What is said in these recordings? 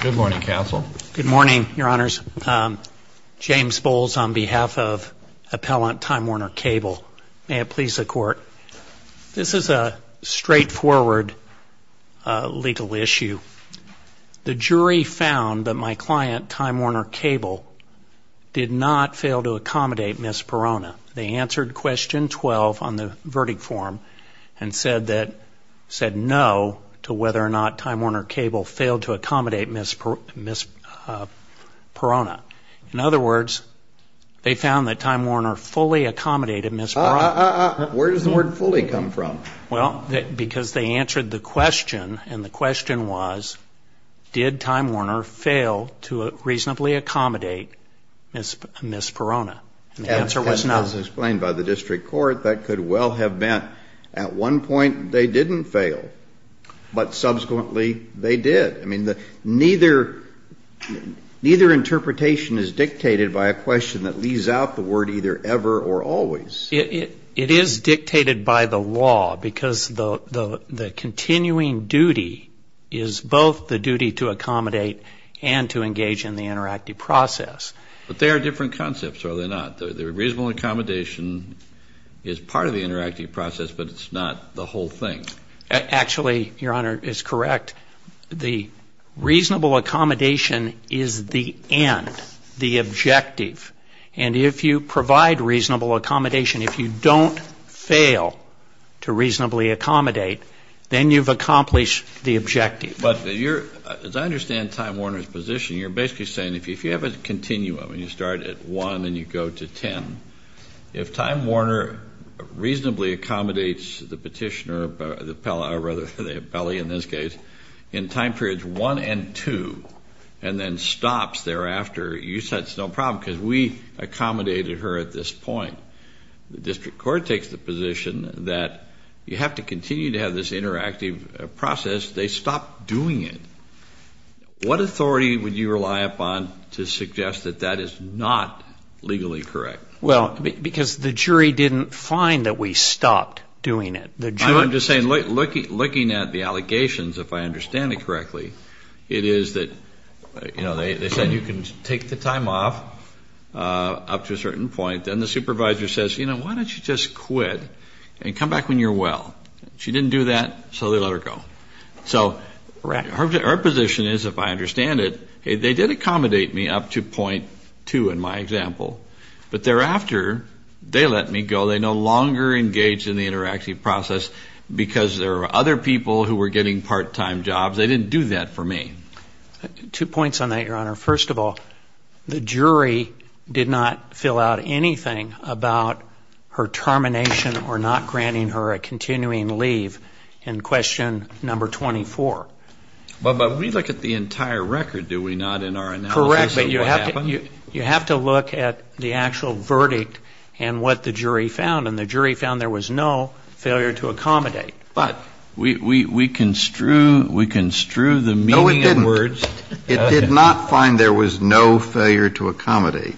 Good morning, Counsel. Good morning, Your Honors. James Bowles on behalf of Appellant Time Warner Cable. May it please the Court. This is a straightforward legal issue. The jury found that my client, Time Warner Cable, did not fail to accommodate Ms. Perona. They answered Question 12 on the verdict form and said no to whether or not Time Warner Cable failed to accommodate Ms. Perona. In other words, they found that Time Warner fully accommodated Ms. Perona. Where does the word fully come from? Well, because they answered the question, and the question was, did Time Warner fail to reasonably accommodate Ms. Perona? The answer was no. As explained by the district court, that could well have meant at one point they didn't fail, but subsequently they did. I mean, neither interpretation is dictated by a question that leaves out the word either ever or always. It is dictated by the law because the continuing duty is both the duty to accommodate and to engage in the interactive process. But they are different concepts, are they not? The reasonable accommodation is part of the interactive process, but it's not the whole thing. Actually, Your Honor, it's correct. The reasonable accommodation is the end, the objective. And if you provide reasonable accommodation, if you don't fail to reasonably accommodate, then you've accomplished the objective. But as I understand Time Warner's position, you're basically saying if you have a continuum and you start at 1 and you go to 10, if Time Warner reasonably accommodates the petitioner, the appellee in this case, in time periods 1 and 2, and then stops thereafter, you said it's no problem because we accommodated her at this point. The district court takes the position that you have to continue to have this interactive process. They stopped doing it. What authority would you rely upon to suggest that that is not legally correct? Well, because the jury didn't find that we stopped doing it. I'm just saying looking at the allegations, if I understand it correctly, it is that, you know, they said you can take the time off up to a certain point. Then the supervisor says, you know, why don't you just quit and come back when you're well? She didn't do that, so they let her go. So our position is, if I understand it, hey, they did accommodate me up to point 2 in my example, but thereafter they let me go. They no longer engaged in the interactive process because there were other people who were getting part-time jobs. They didn't do that for me. Two points on that, Your Honor. First of all, the jury did not fill out anything about her termination or not granting her a continuing leave in question number 24. But we look at the entire record, do we not, in our analysis of what happened? Correct, but you have to look at the actual verdict and what the jury found, and the jury found there was no failure to accommodate. But we construe the meaning of words. No, it didn't. We did not find there was no failure to accommodate,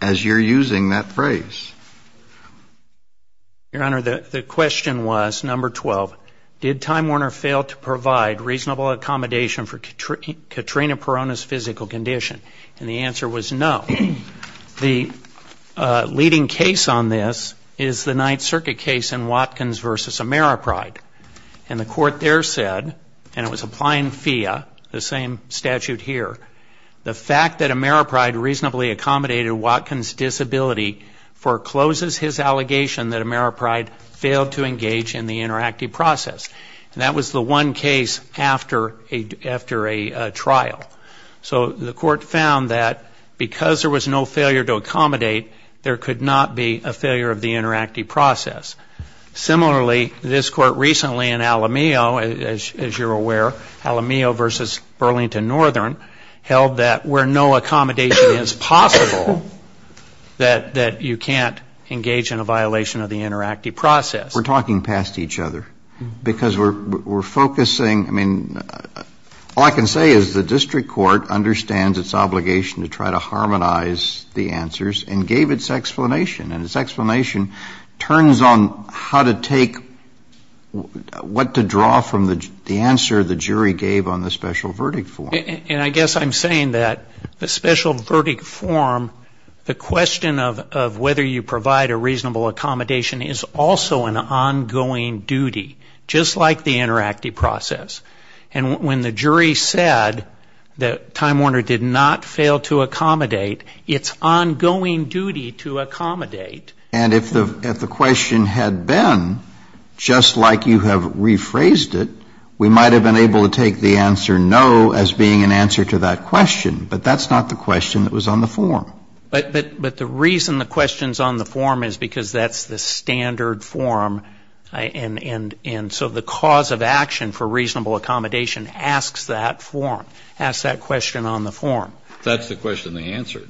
as you're using that phrase. Your Honor, the question was, number 12, did Time Warner fail to provide reasonable accommodation for Katrina Perona's physical condition? And the answer was no. The leading case on this is the Ninth Circuit case in Watkins v. Ameripride. And the court there said, and it was applying FIA, the same statute here, the fact that Ameripride reasonably accommodated Watkins' disability forecloses his allegation that Ameripride failed to engage in the interactive process. And that was the one case after a trial. So the court found that because there was no failure to accommodate, there could not be a failure of the interactive process. Similarly, this court recently in Alamillo, as you're aware, Alamillo v. Burlington Northern held that where no accommodation is possible, that you can't engage in a violation of the interactive process. We're talking past each other because we're focusing, I mean, all I can say is the district court understands its obligation to try to harmonize the answers and gave its explanation. And its explanation turns on how to take, what to draw from the answer the jury gave on the special verdict form. And I guess I'm saying that the special verdict form, the question of whether you provide a reasonable accommodation is also an ongoing duty, just like the interactive process. And when the jury said that Time Warner did not fail to accommodate, it's ongoing duty to accommodate. And if the question had been just like you have rephrased it, we might have been able to take the answer no as being an answer to that question. But that's not the question that was on the form. But the reason the question's on the form is because that's the standard form. And so the cause of action for reasonable accommodation asks that form, asks that question on the form. That's the question they answered.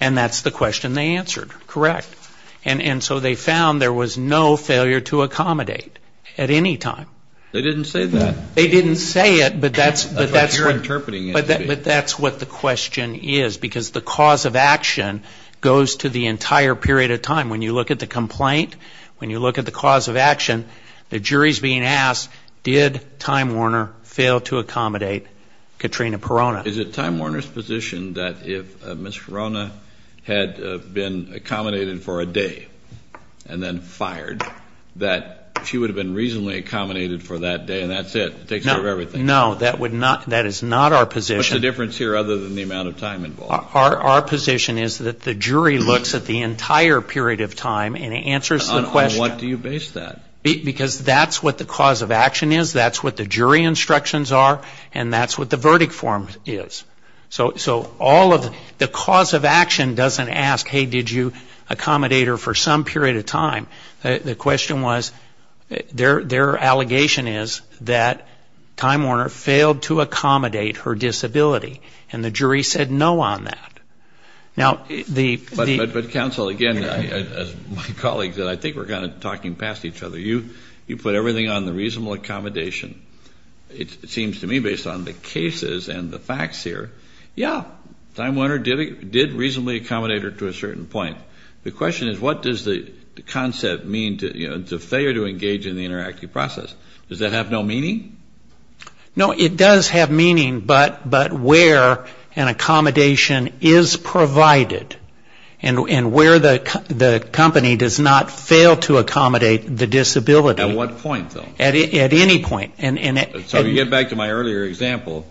And that's the question they answered, correct. And so they found there was no failure to accommodate at any time. They didn't say that. They didn't say it, but that's what the question is, because the cause of action goes to the entire period of time. When you look at the complaint, when you look at the cause of action, the jury's being asked, did Time Warner fail to accommodate Katrina Perona? Is it Time Warner's position that if Ms. Perona had been accommodated for a day and then fired, that she would have been reasonably accommodated for that day and that's it, takes care of everything? No. That is not our position. What's the difference here other than the amount of time involved? Our position is that the jury looks at the entire period of time and answers the question. On what do you base that? Because that's what the cause of action is. That's what the jury instructions are. And that's what the verdict form is. So all of the cause of action doesn't ask, hey, did you accommodate her for some period of time? The question was, their allegation is that Time Warner failed to accommodate her disability, and the jury said no on that. But, counsel, again, as my colleague said, I think we're kind of talking past each other. You put everything on the reasonable accommodation. It seems to me, based on the cases and the facts here, yeah, Time Warner did reasonably accommodate her to a certain point. The question is, what does the concept mean to failure to engage in the interactive process? Does that have no meaning? No, it does have meaning, but where an accommodation is provided and where the company does not fail to accommodate the disability. At what point, though? At any point. So you get back to my earlier example,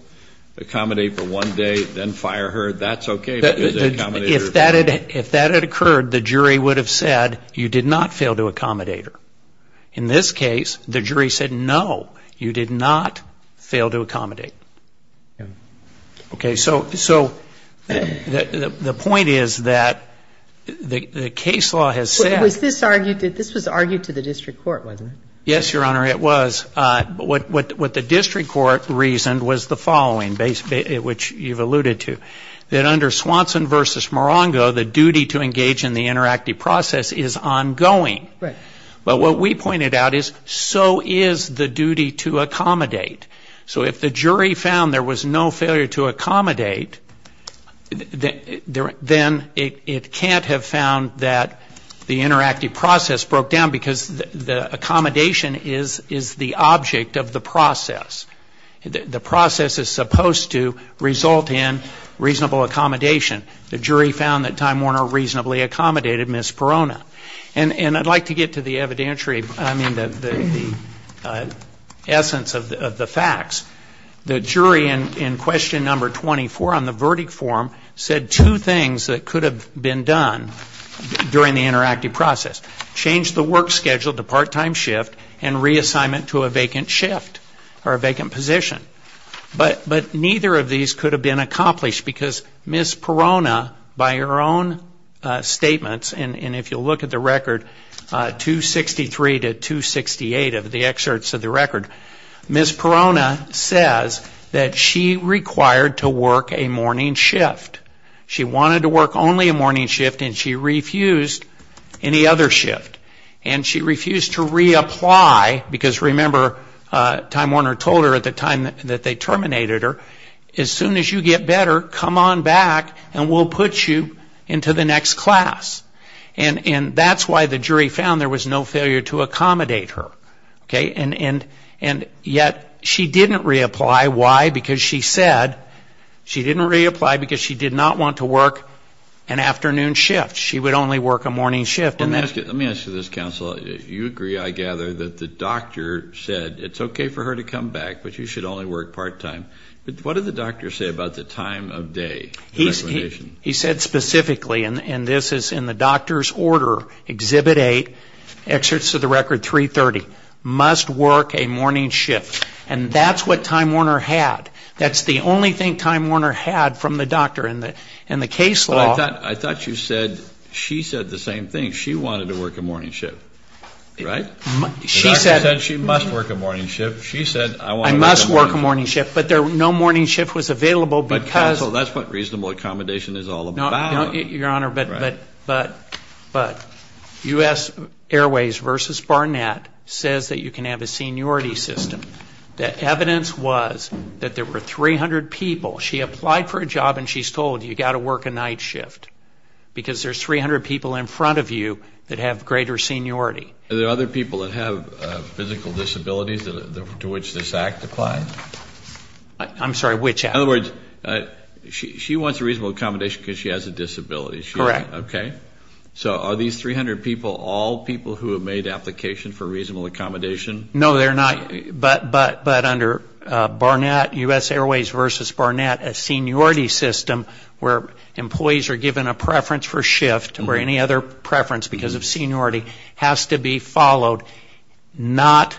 accommodate for one day, then fire her, that's okay. If that had occurred, the jury would have said, you did not fail to accommodate her. In this case, the jury said, no, you did not fail to accommodate. Okay, so the point is that the case law has said. This was argued to the district court, wasn't it? Yes, Your Honor, it was. What the district court reasoned was the following, which you've alluded to, that under Swanson v. Morongo, the duty to engage in the interactive process is ongoing. Right. But what we pointed out is, so is the duty to accommodate. So if the jury found there was no failure to accommodate, then it can't have found that the interactive process broke down because the accommodation is the object of the process. The process is supposed to result in reasonable accommodation. The jury found that Time Warner reasonably accommodated Ms. Perona. And I'd like to get to the evidentiary, I mean the essence of the facts. The jury in question number 24 on the verdict form said two things that could have been done during the interactive process. Change the work schedule to part-time shift and reassignment to a vacant shift or a vacant position. But neither of these could have been accomplished because Ms. Perona, by her own statements, and if you'll look at the record, 263 to 268 of the excerpts of the record, Ms. Perona says that she required to work a morning shift. She wanted to work only a morning shift and she refused any other shift. And she refused to reapply because, remember, Time Warner told her at the time that they terminated her, as soon as you get better, come on back and we'll put you into the next class. And that's why the jury found there was no failure to accommodate her. And yet she didn't reapply. Why? Because she said she didn't reapply because she did not want to work an afternoon shift. She would only work a morning shift. Let me ask you this, counsel. You agree, I gather, that the doctor said it's okay for her to come back, but she should only work part-time. What did the doctor say about the time of day? He said specifically, and this is in the doctor's order, Exhibit 8, excerpts of the record 330, must work a morning shift. And that's what Time Warner had. That's the only thing Time Warner had from the doctor in the case law. But I thought you said she said the same thing. She wanted to work a morning shift, right? The doctor said she must work a morning shift. She said I want to work a morning shift. I must work a morning shift. But no morning shift was available because. But, counsel, that's what reasonable accommodation is all about. Your Honor, but U.S. Airways versus Barnett says that you can have a seniority system. The evidence was that there were 300 people. She applied for a job and she's told you've got to work a night shift because there's 300 people in front of you that have greater seniority. Are there other people that have physical disabilities to which this act applies? I'm sorry, which act? In other words, she wants a reasonable accommodation because she has a disability. Correct. Okay. So are these 300 people all people who have made application for reasonable accommodation? No, they're not. But under Barnett, U.S. Airways versus Barnett, a seniority system where employees are given a preference for shift or any other preference because of seniority has to be followed, not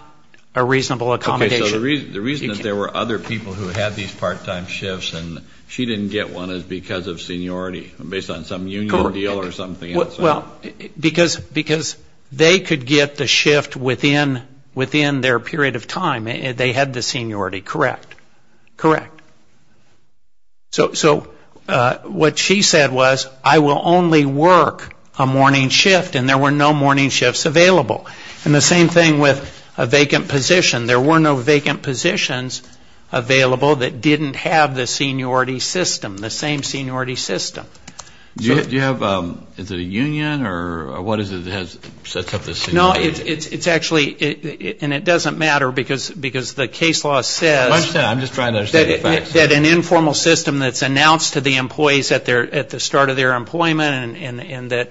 a reasonable accommodation. Okay. So the reason that there were other people who had these part-time shifts and she didn't get one is because of seniority based on some union deal or something else. Well, because they could get the shift within their period of time. They had the seniority. Correct. Correct. So what she said was I will only work a morning shift and there were no morning shifts available. And the same thing with a vacant position. There were no vacant positions available that didn't have the seniority system, the same seniority system. Do you have, is it a union or what is it that sets up the seniority? No, it's actually, and it doesn't matter because the case law says that an informal system that's announced to the employees at the start of their employment and that.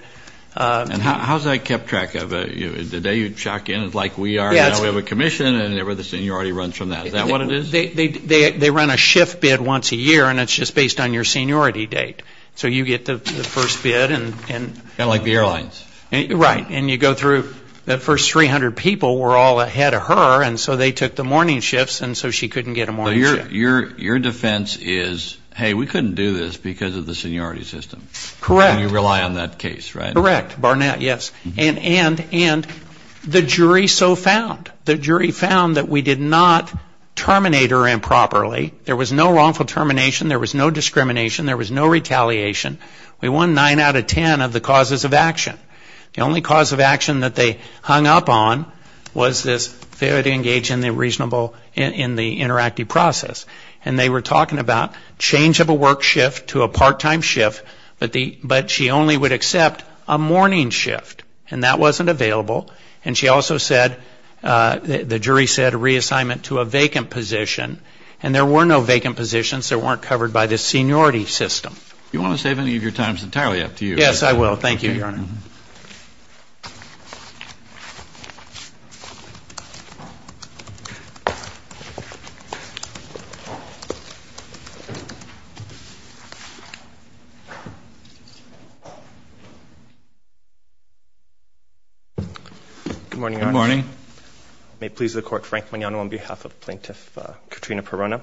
And how is that kept track of? The day you check in it's like we have a commission and the seniority runs from that. Is that what it is? They run a shift bid once a year and it's just based on your seniority date. So you get the first bid. Kind of like the airlines. Right. And you go through that first 300 people were all ahead of her and so they took the morning shifts and so she couldn't get a morning shift. So your defense is, hey, we couldn't do this because of the seniority system. Correct. And you rely on that case, right? Correct. Barnett, yes. And the jury so found. The jury found that we did not terminate her improperly. There was no wrongful termination, there was no discrimination, there was no retaliation. We won nine out of ten of the causes of action. The only cause of action that they hung up on was this failure to engage in the reasonable, in the interactive process. And they were talking about change of a work shift to a part-time shift, but she only would accept a morning shift and that wasn't available. And she also said, the jury said, reassignment to a vacant position and there were no vacant positions that weren't covered by this seniority system. Do you want to save any of your time? It's entirely up to you. Yes, I will. Thank you, Your Honor. Thank you. Good morning, Your Honor. Good morning. May it please the Court, Frank Mignano on behalf of Plaintiff Katrina Perona.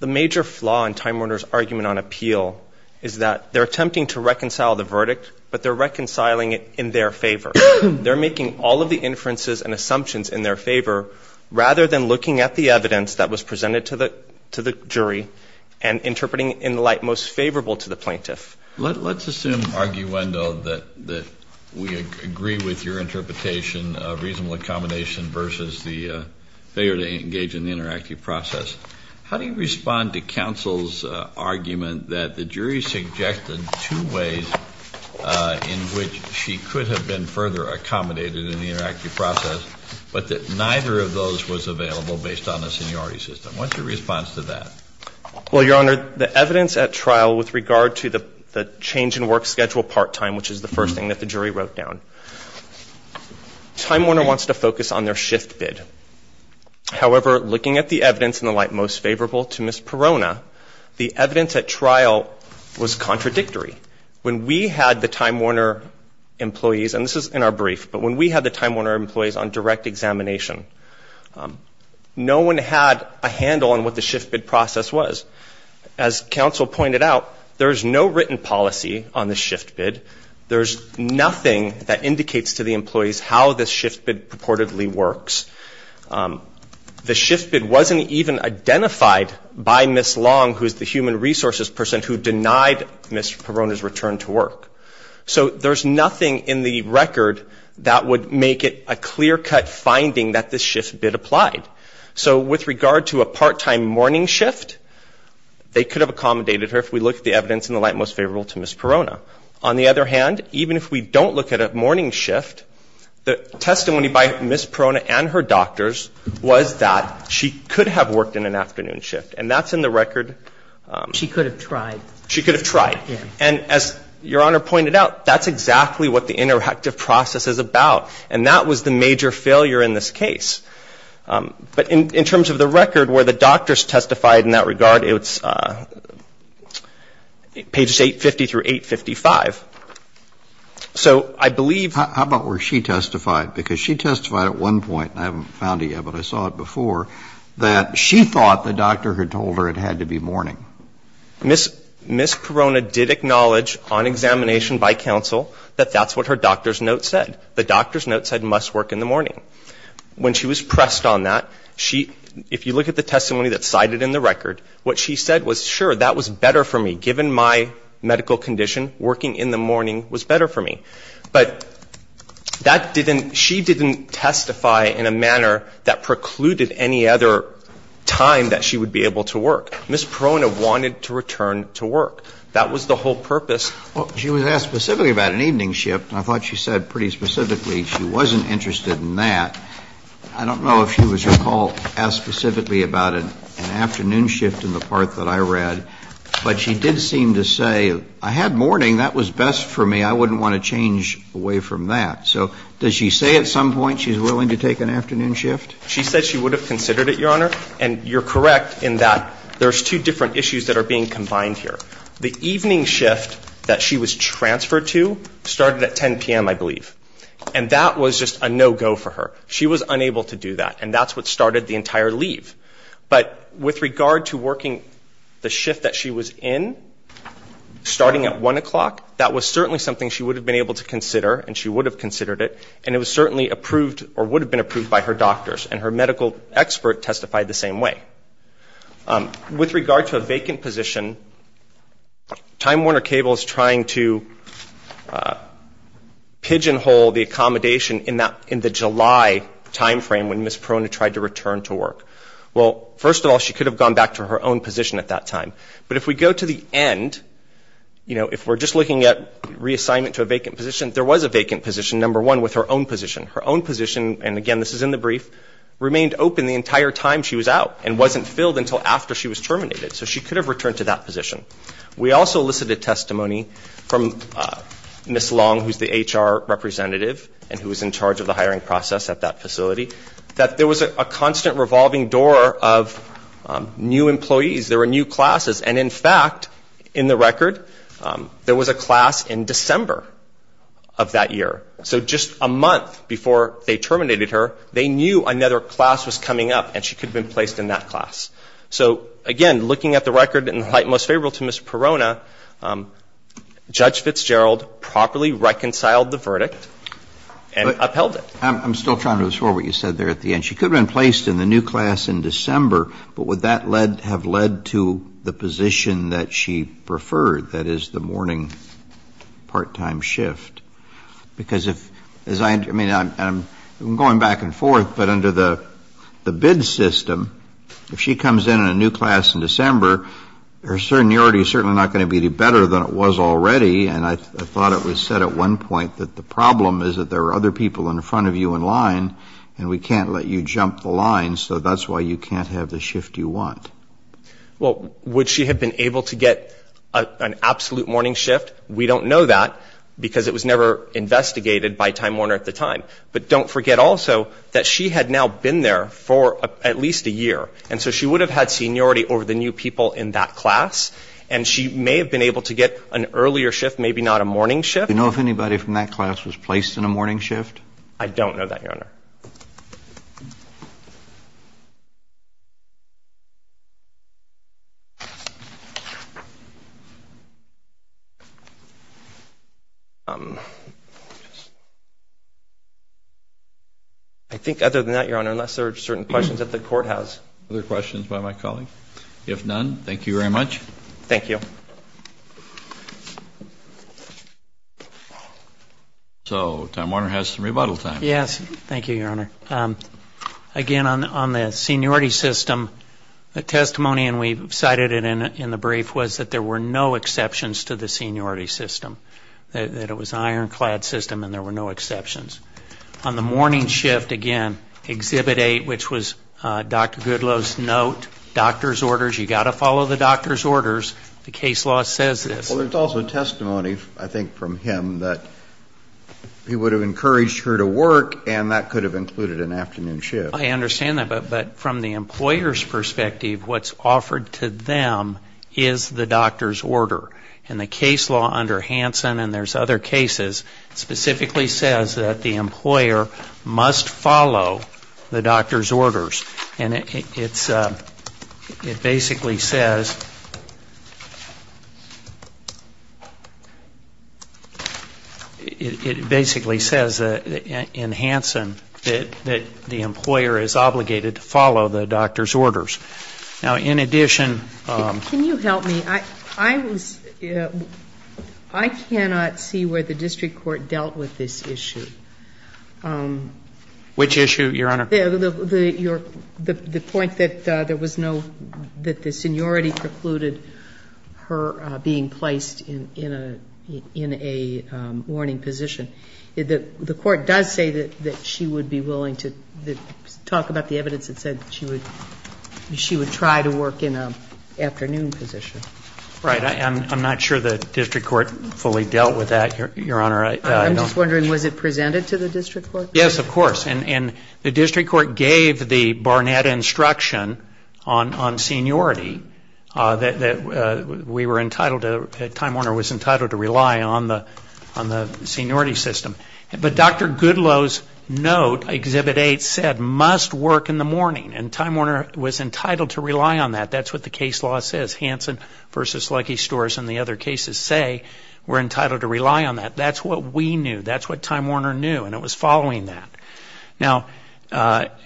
The major flaw in Time Warner's argument on appeal is that they're attempting to reconcile the verdict, but they're reconciling it in their favor. They're making all of the inferences and assumptions in their favor, rather than looking at the evidence that was presented to the jury and interpreting it in the light most favorable to the plaintiff. Let's assume, arguendo, that we agree with your interpretation of reasonable accommodation versus the failure to engage in the interactive process. How do you respond to counsel's argument that the jury suggested two ways in which she could have been further accommodated in the interactive process, but that neither of those was available based on the seniority system? What's your response to that? Well, Your Honor, the evidence at trial with regard to the change in work schedule part time, which is the first thing that the jury wrote down, Time Warner wants to focus on their shift bid. However, looking at the evidence in the light most favorable to Ms. Perona, the evidence at trial was contradictory. When we had the Time Warner employees, and this is in our brief, but when we had the Time Warner employees on direct examination, no one had a handle on what the shift bid process was. As counsel pointed out, there is no written policy on the shift bid. There's nothing that indicates to the employees how this shift bid purportedly works. The shift bid wasn't even identified by Ms. Long, who is the human resources person, who denied Ms. Perona's return to work. So there's nothing in the record that would make it a clear cut finding that this shift bid applied. So with regard to a part time morning shift, they could have accommodated her, if we looked at the evidence in the light most favorable to Ms. Perona. On the other hand, even if we don't look at a morning shift, the testimony by Ms. Perona and her doctors was that she could have worked in an afternoon shift. And that's in the record. She could have tried. She could have tried. And as Your Honor pointed out, that's exactly what the interactive process is about. And that was the major failure in this case. But in terms of the record where the doctors testified in that regard, it's pages 850 through 855. So I believe ---- How about where she testified? Because she testified at one point, and I haven't found it yet, but I saw it before, that she thought the doctor had told her it had to be morning. Ms. Perona did acknowledge on examination by counsel that that's what her doctor's note said. The doctor's note said must work in the morning. When she was pressed on that, if you look at the testimony that's cited in the record, what she said was, sure, that was better for me. Given my medical condition, working in the morning was better for me. But that didn't ---- she didn't testify in a manner that precluded any other time that she would be able to work. Ms. Perona wanted to return to work. That was the whole purpose. Well, she was asked specifically about an evening shift, and I thought she said pretty specifically she wasn't interested in that. I don't know if she was recalled to ask specifically about an afternoon shift in the part that I read, but she did seem to say, I had morning. That was best for me. I wouldn't want to change away from that. So does she say at some point she's willing to take an afternoon shift? She said she would have considered it, Your Honor. And you're correct in that there's two different issues that are being combined here. The evening shift that she was transferred to started at 10 p.m., I believe. And that was just a no-go for her. She was unable to do that, and that's what started the entire leave. But with regard to working the shift that she was in, starting at 1 o'clock, that was certainly something she would have been able to consider, and she would have considered it, and it was certainly approved or would have been approved by her doctors, and her medical expert testified the same way. With regard to a vacant position, Time Warner Cable is trying to pigeonhole the accommodation in the July time frame when Ms. Perona tried to return to work. Well, first of all, she could have gone back to her own position at that time. But if we go to the end, you know, if we're just looking at reassignment to a vacant position, there was a vacant position, number one, with her own position. Her own position, and again this is in the brief, remained open the entire time she was out and wasn't filled until after she was terminated. So she could have returned to that position. We also elicited testimony from Ms. Long, who's the HR representative and who was in charge of the hiring process at that facility, that there was a constant revolving door of new employees. There were new classes, and in fact, in the record, there was a class in December of that year. So just a month before they terminated her, they knew another class was coming up and she could have been placed in that class. So, again, looking at the record in light most favorable to Ms. Perona, Judge Fitzgerald properly reconciled the verdict and upheld it. I'm still trying to restore what you said there at the end. She could have been placed in the new class in December, but would that have led to the position that she preferred, that is, the morning part-time shift? Because if, as I, I mean, I'm going back and forth, but under the bid system, if she comes in in a new class in December, her seniority is certainly not going to be any better than it was already, and I thought it was said at one point that the problem is that there are other people in front of you in line and we can't let you jump the line, so that's why you can't have the shift you want. Well, would she have been able to get an absolute morning shift? We don't know that because it was never investigated by Time Warner at the time. But don't forget also that she had now been there for at least a year, and so she would have had seniority over the new people in that class, and she may have been able to get an earlier shift, maybe not a morning shift. Do you know if anybody from that class was placed in a morning shift? I don't know that, Your Honor. I think other than that, Your Honor, unless there are certain questions that the Court has. Other questions by my colleague? If none, thank you very much. Thank you. So Time Warner has some rebuttal time. Yes. Thank you. Thank you, Your Honor. Again, on the seniority system, the testimony, and we cited it in the brief, was that there were no exceptions to the seniority system, that it was an ironclad system and there were no exceptions. On the morning shift, again, Exhibit 8, which was Dr. Goodloe's note, doctor's orders, you've got to follow the doctor's orders, the case law says this. Well, there's also testimony, I think, from him that he would have encouraged her to work and that could have included an afternoon shift. I understand that. But from the employer's perspective, what's offered to them is the doctor's order. And the case law under Hansen, and there's other cases, specifically says that the employer must follow the doctor's orders. And it basically says, in Hansen, that the employer is obligated to follow the doctor's orders. Now, in addition to the doctor's orders, there's also the case law, the point that there was no, that the seniority precluded her being placed in a warning position. The court does say that she would be willing to talk about the evidence that said she would try to work in an afternoon position. Right. I'm not sure the district court fully dealt with that, Your Honor. I'm just wondering, was it presented to the district court? Yes, of course. And the district court gave the Barnett instruction on seniority that we were entitled to, that Time Warner was entitled to rely on the seniority system. But Dr. Goodloe's note, Exhibit 8, said, must work in the morning. And Time Warner was entitled to rely on that. That's what the case law says. Hansen v. Lucky Stores and the other cases say we're entitled to rely on that. That's what we knew. That's what Time Warner knew. And it was following that. Now,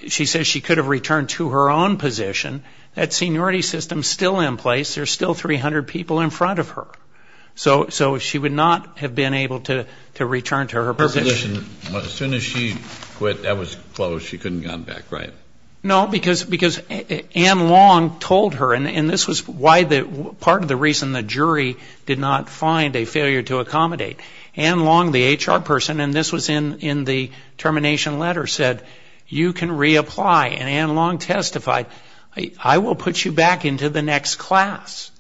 she says she could have returned to her own position. That seniority system is still in place. There's still 300 people in front of her. So she would not have been able to return to her position. As soon as she quit, that was closed. She couldn't have gone back, right? No, because Ann Long told her, and this was part of the reason the jury did not find a failure to accommodate. Ann Long, the HR person, and this was in the termination letter, said, you can reapply. And Ann Long testified, I will put you back into the next class.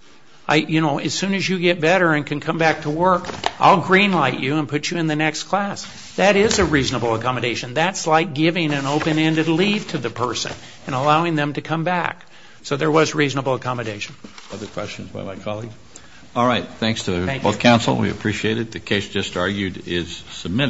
You know, as soon as you get better and can come back to work, I'll green light you and put you in the next class. That is a reasonable accommodation. That's like giving an open-ended leave to the person and allowing them to come back. So there was reasonable accommodation. Other questions by my colleague? All right. Thanks to both counsel. We appreciate it. The case just argued is submitted.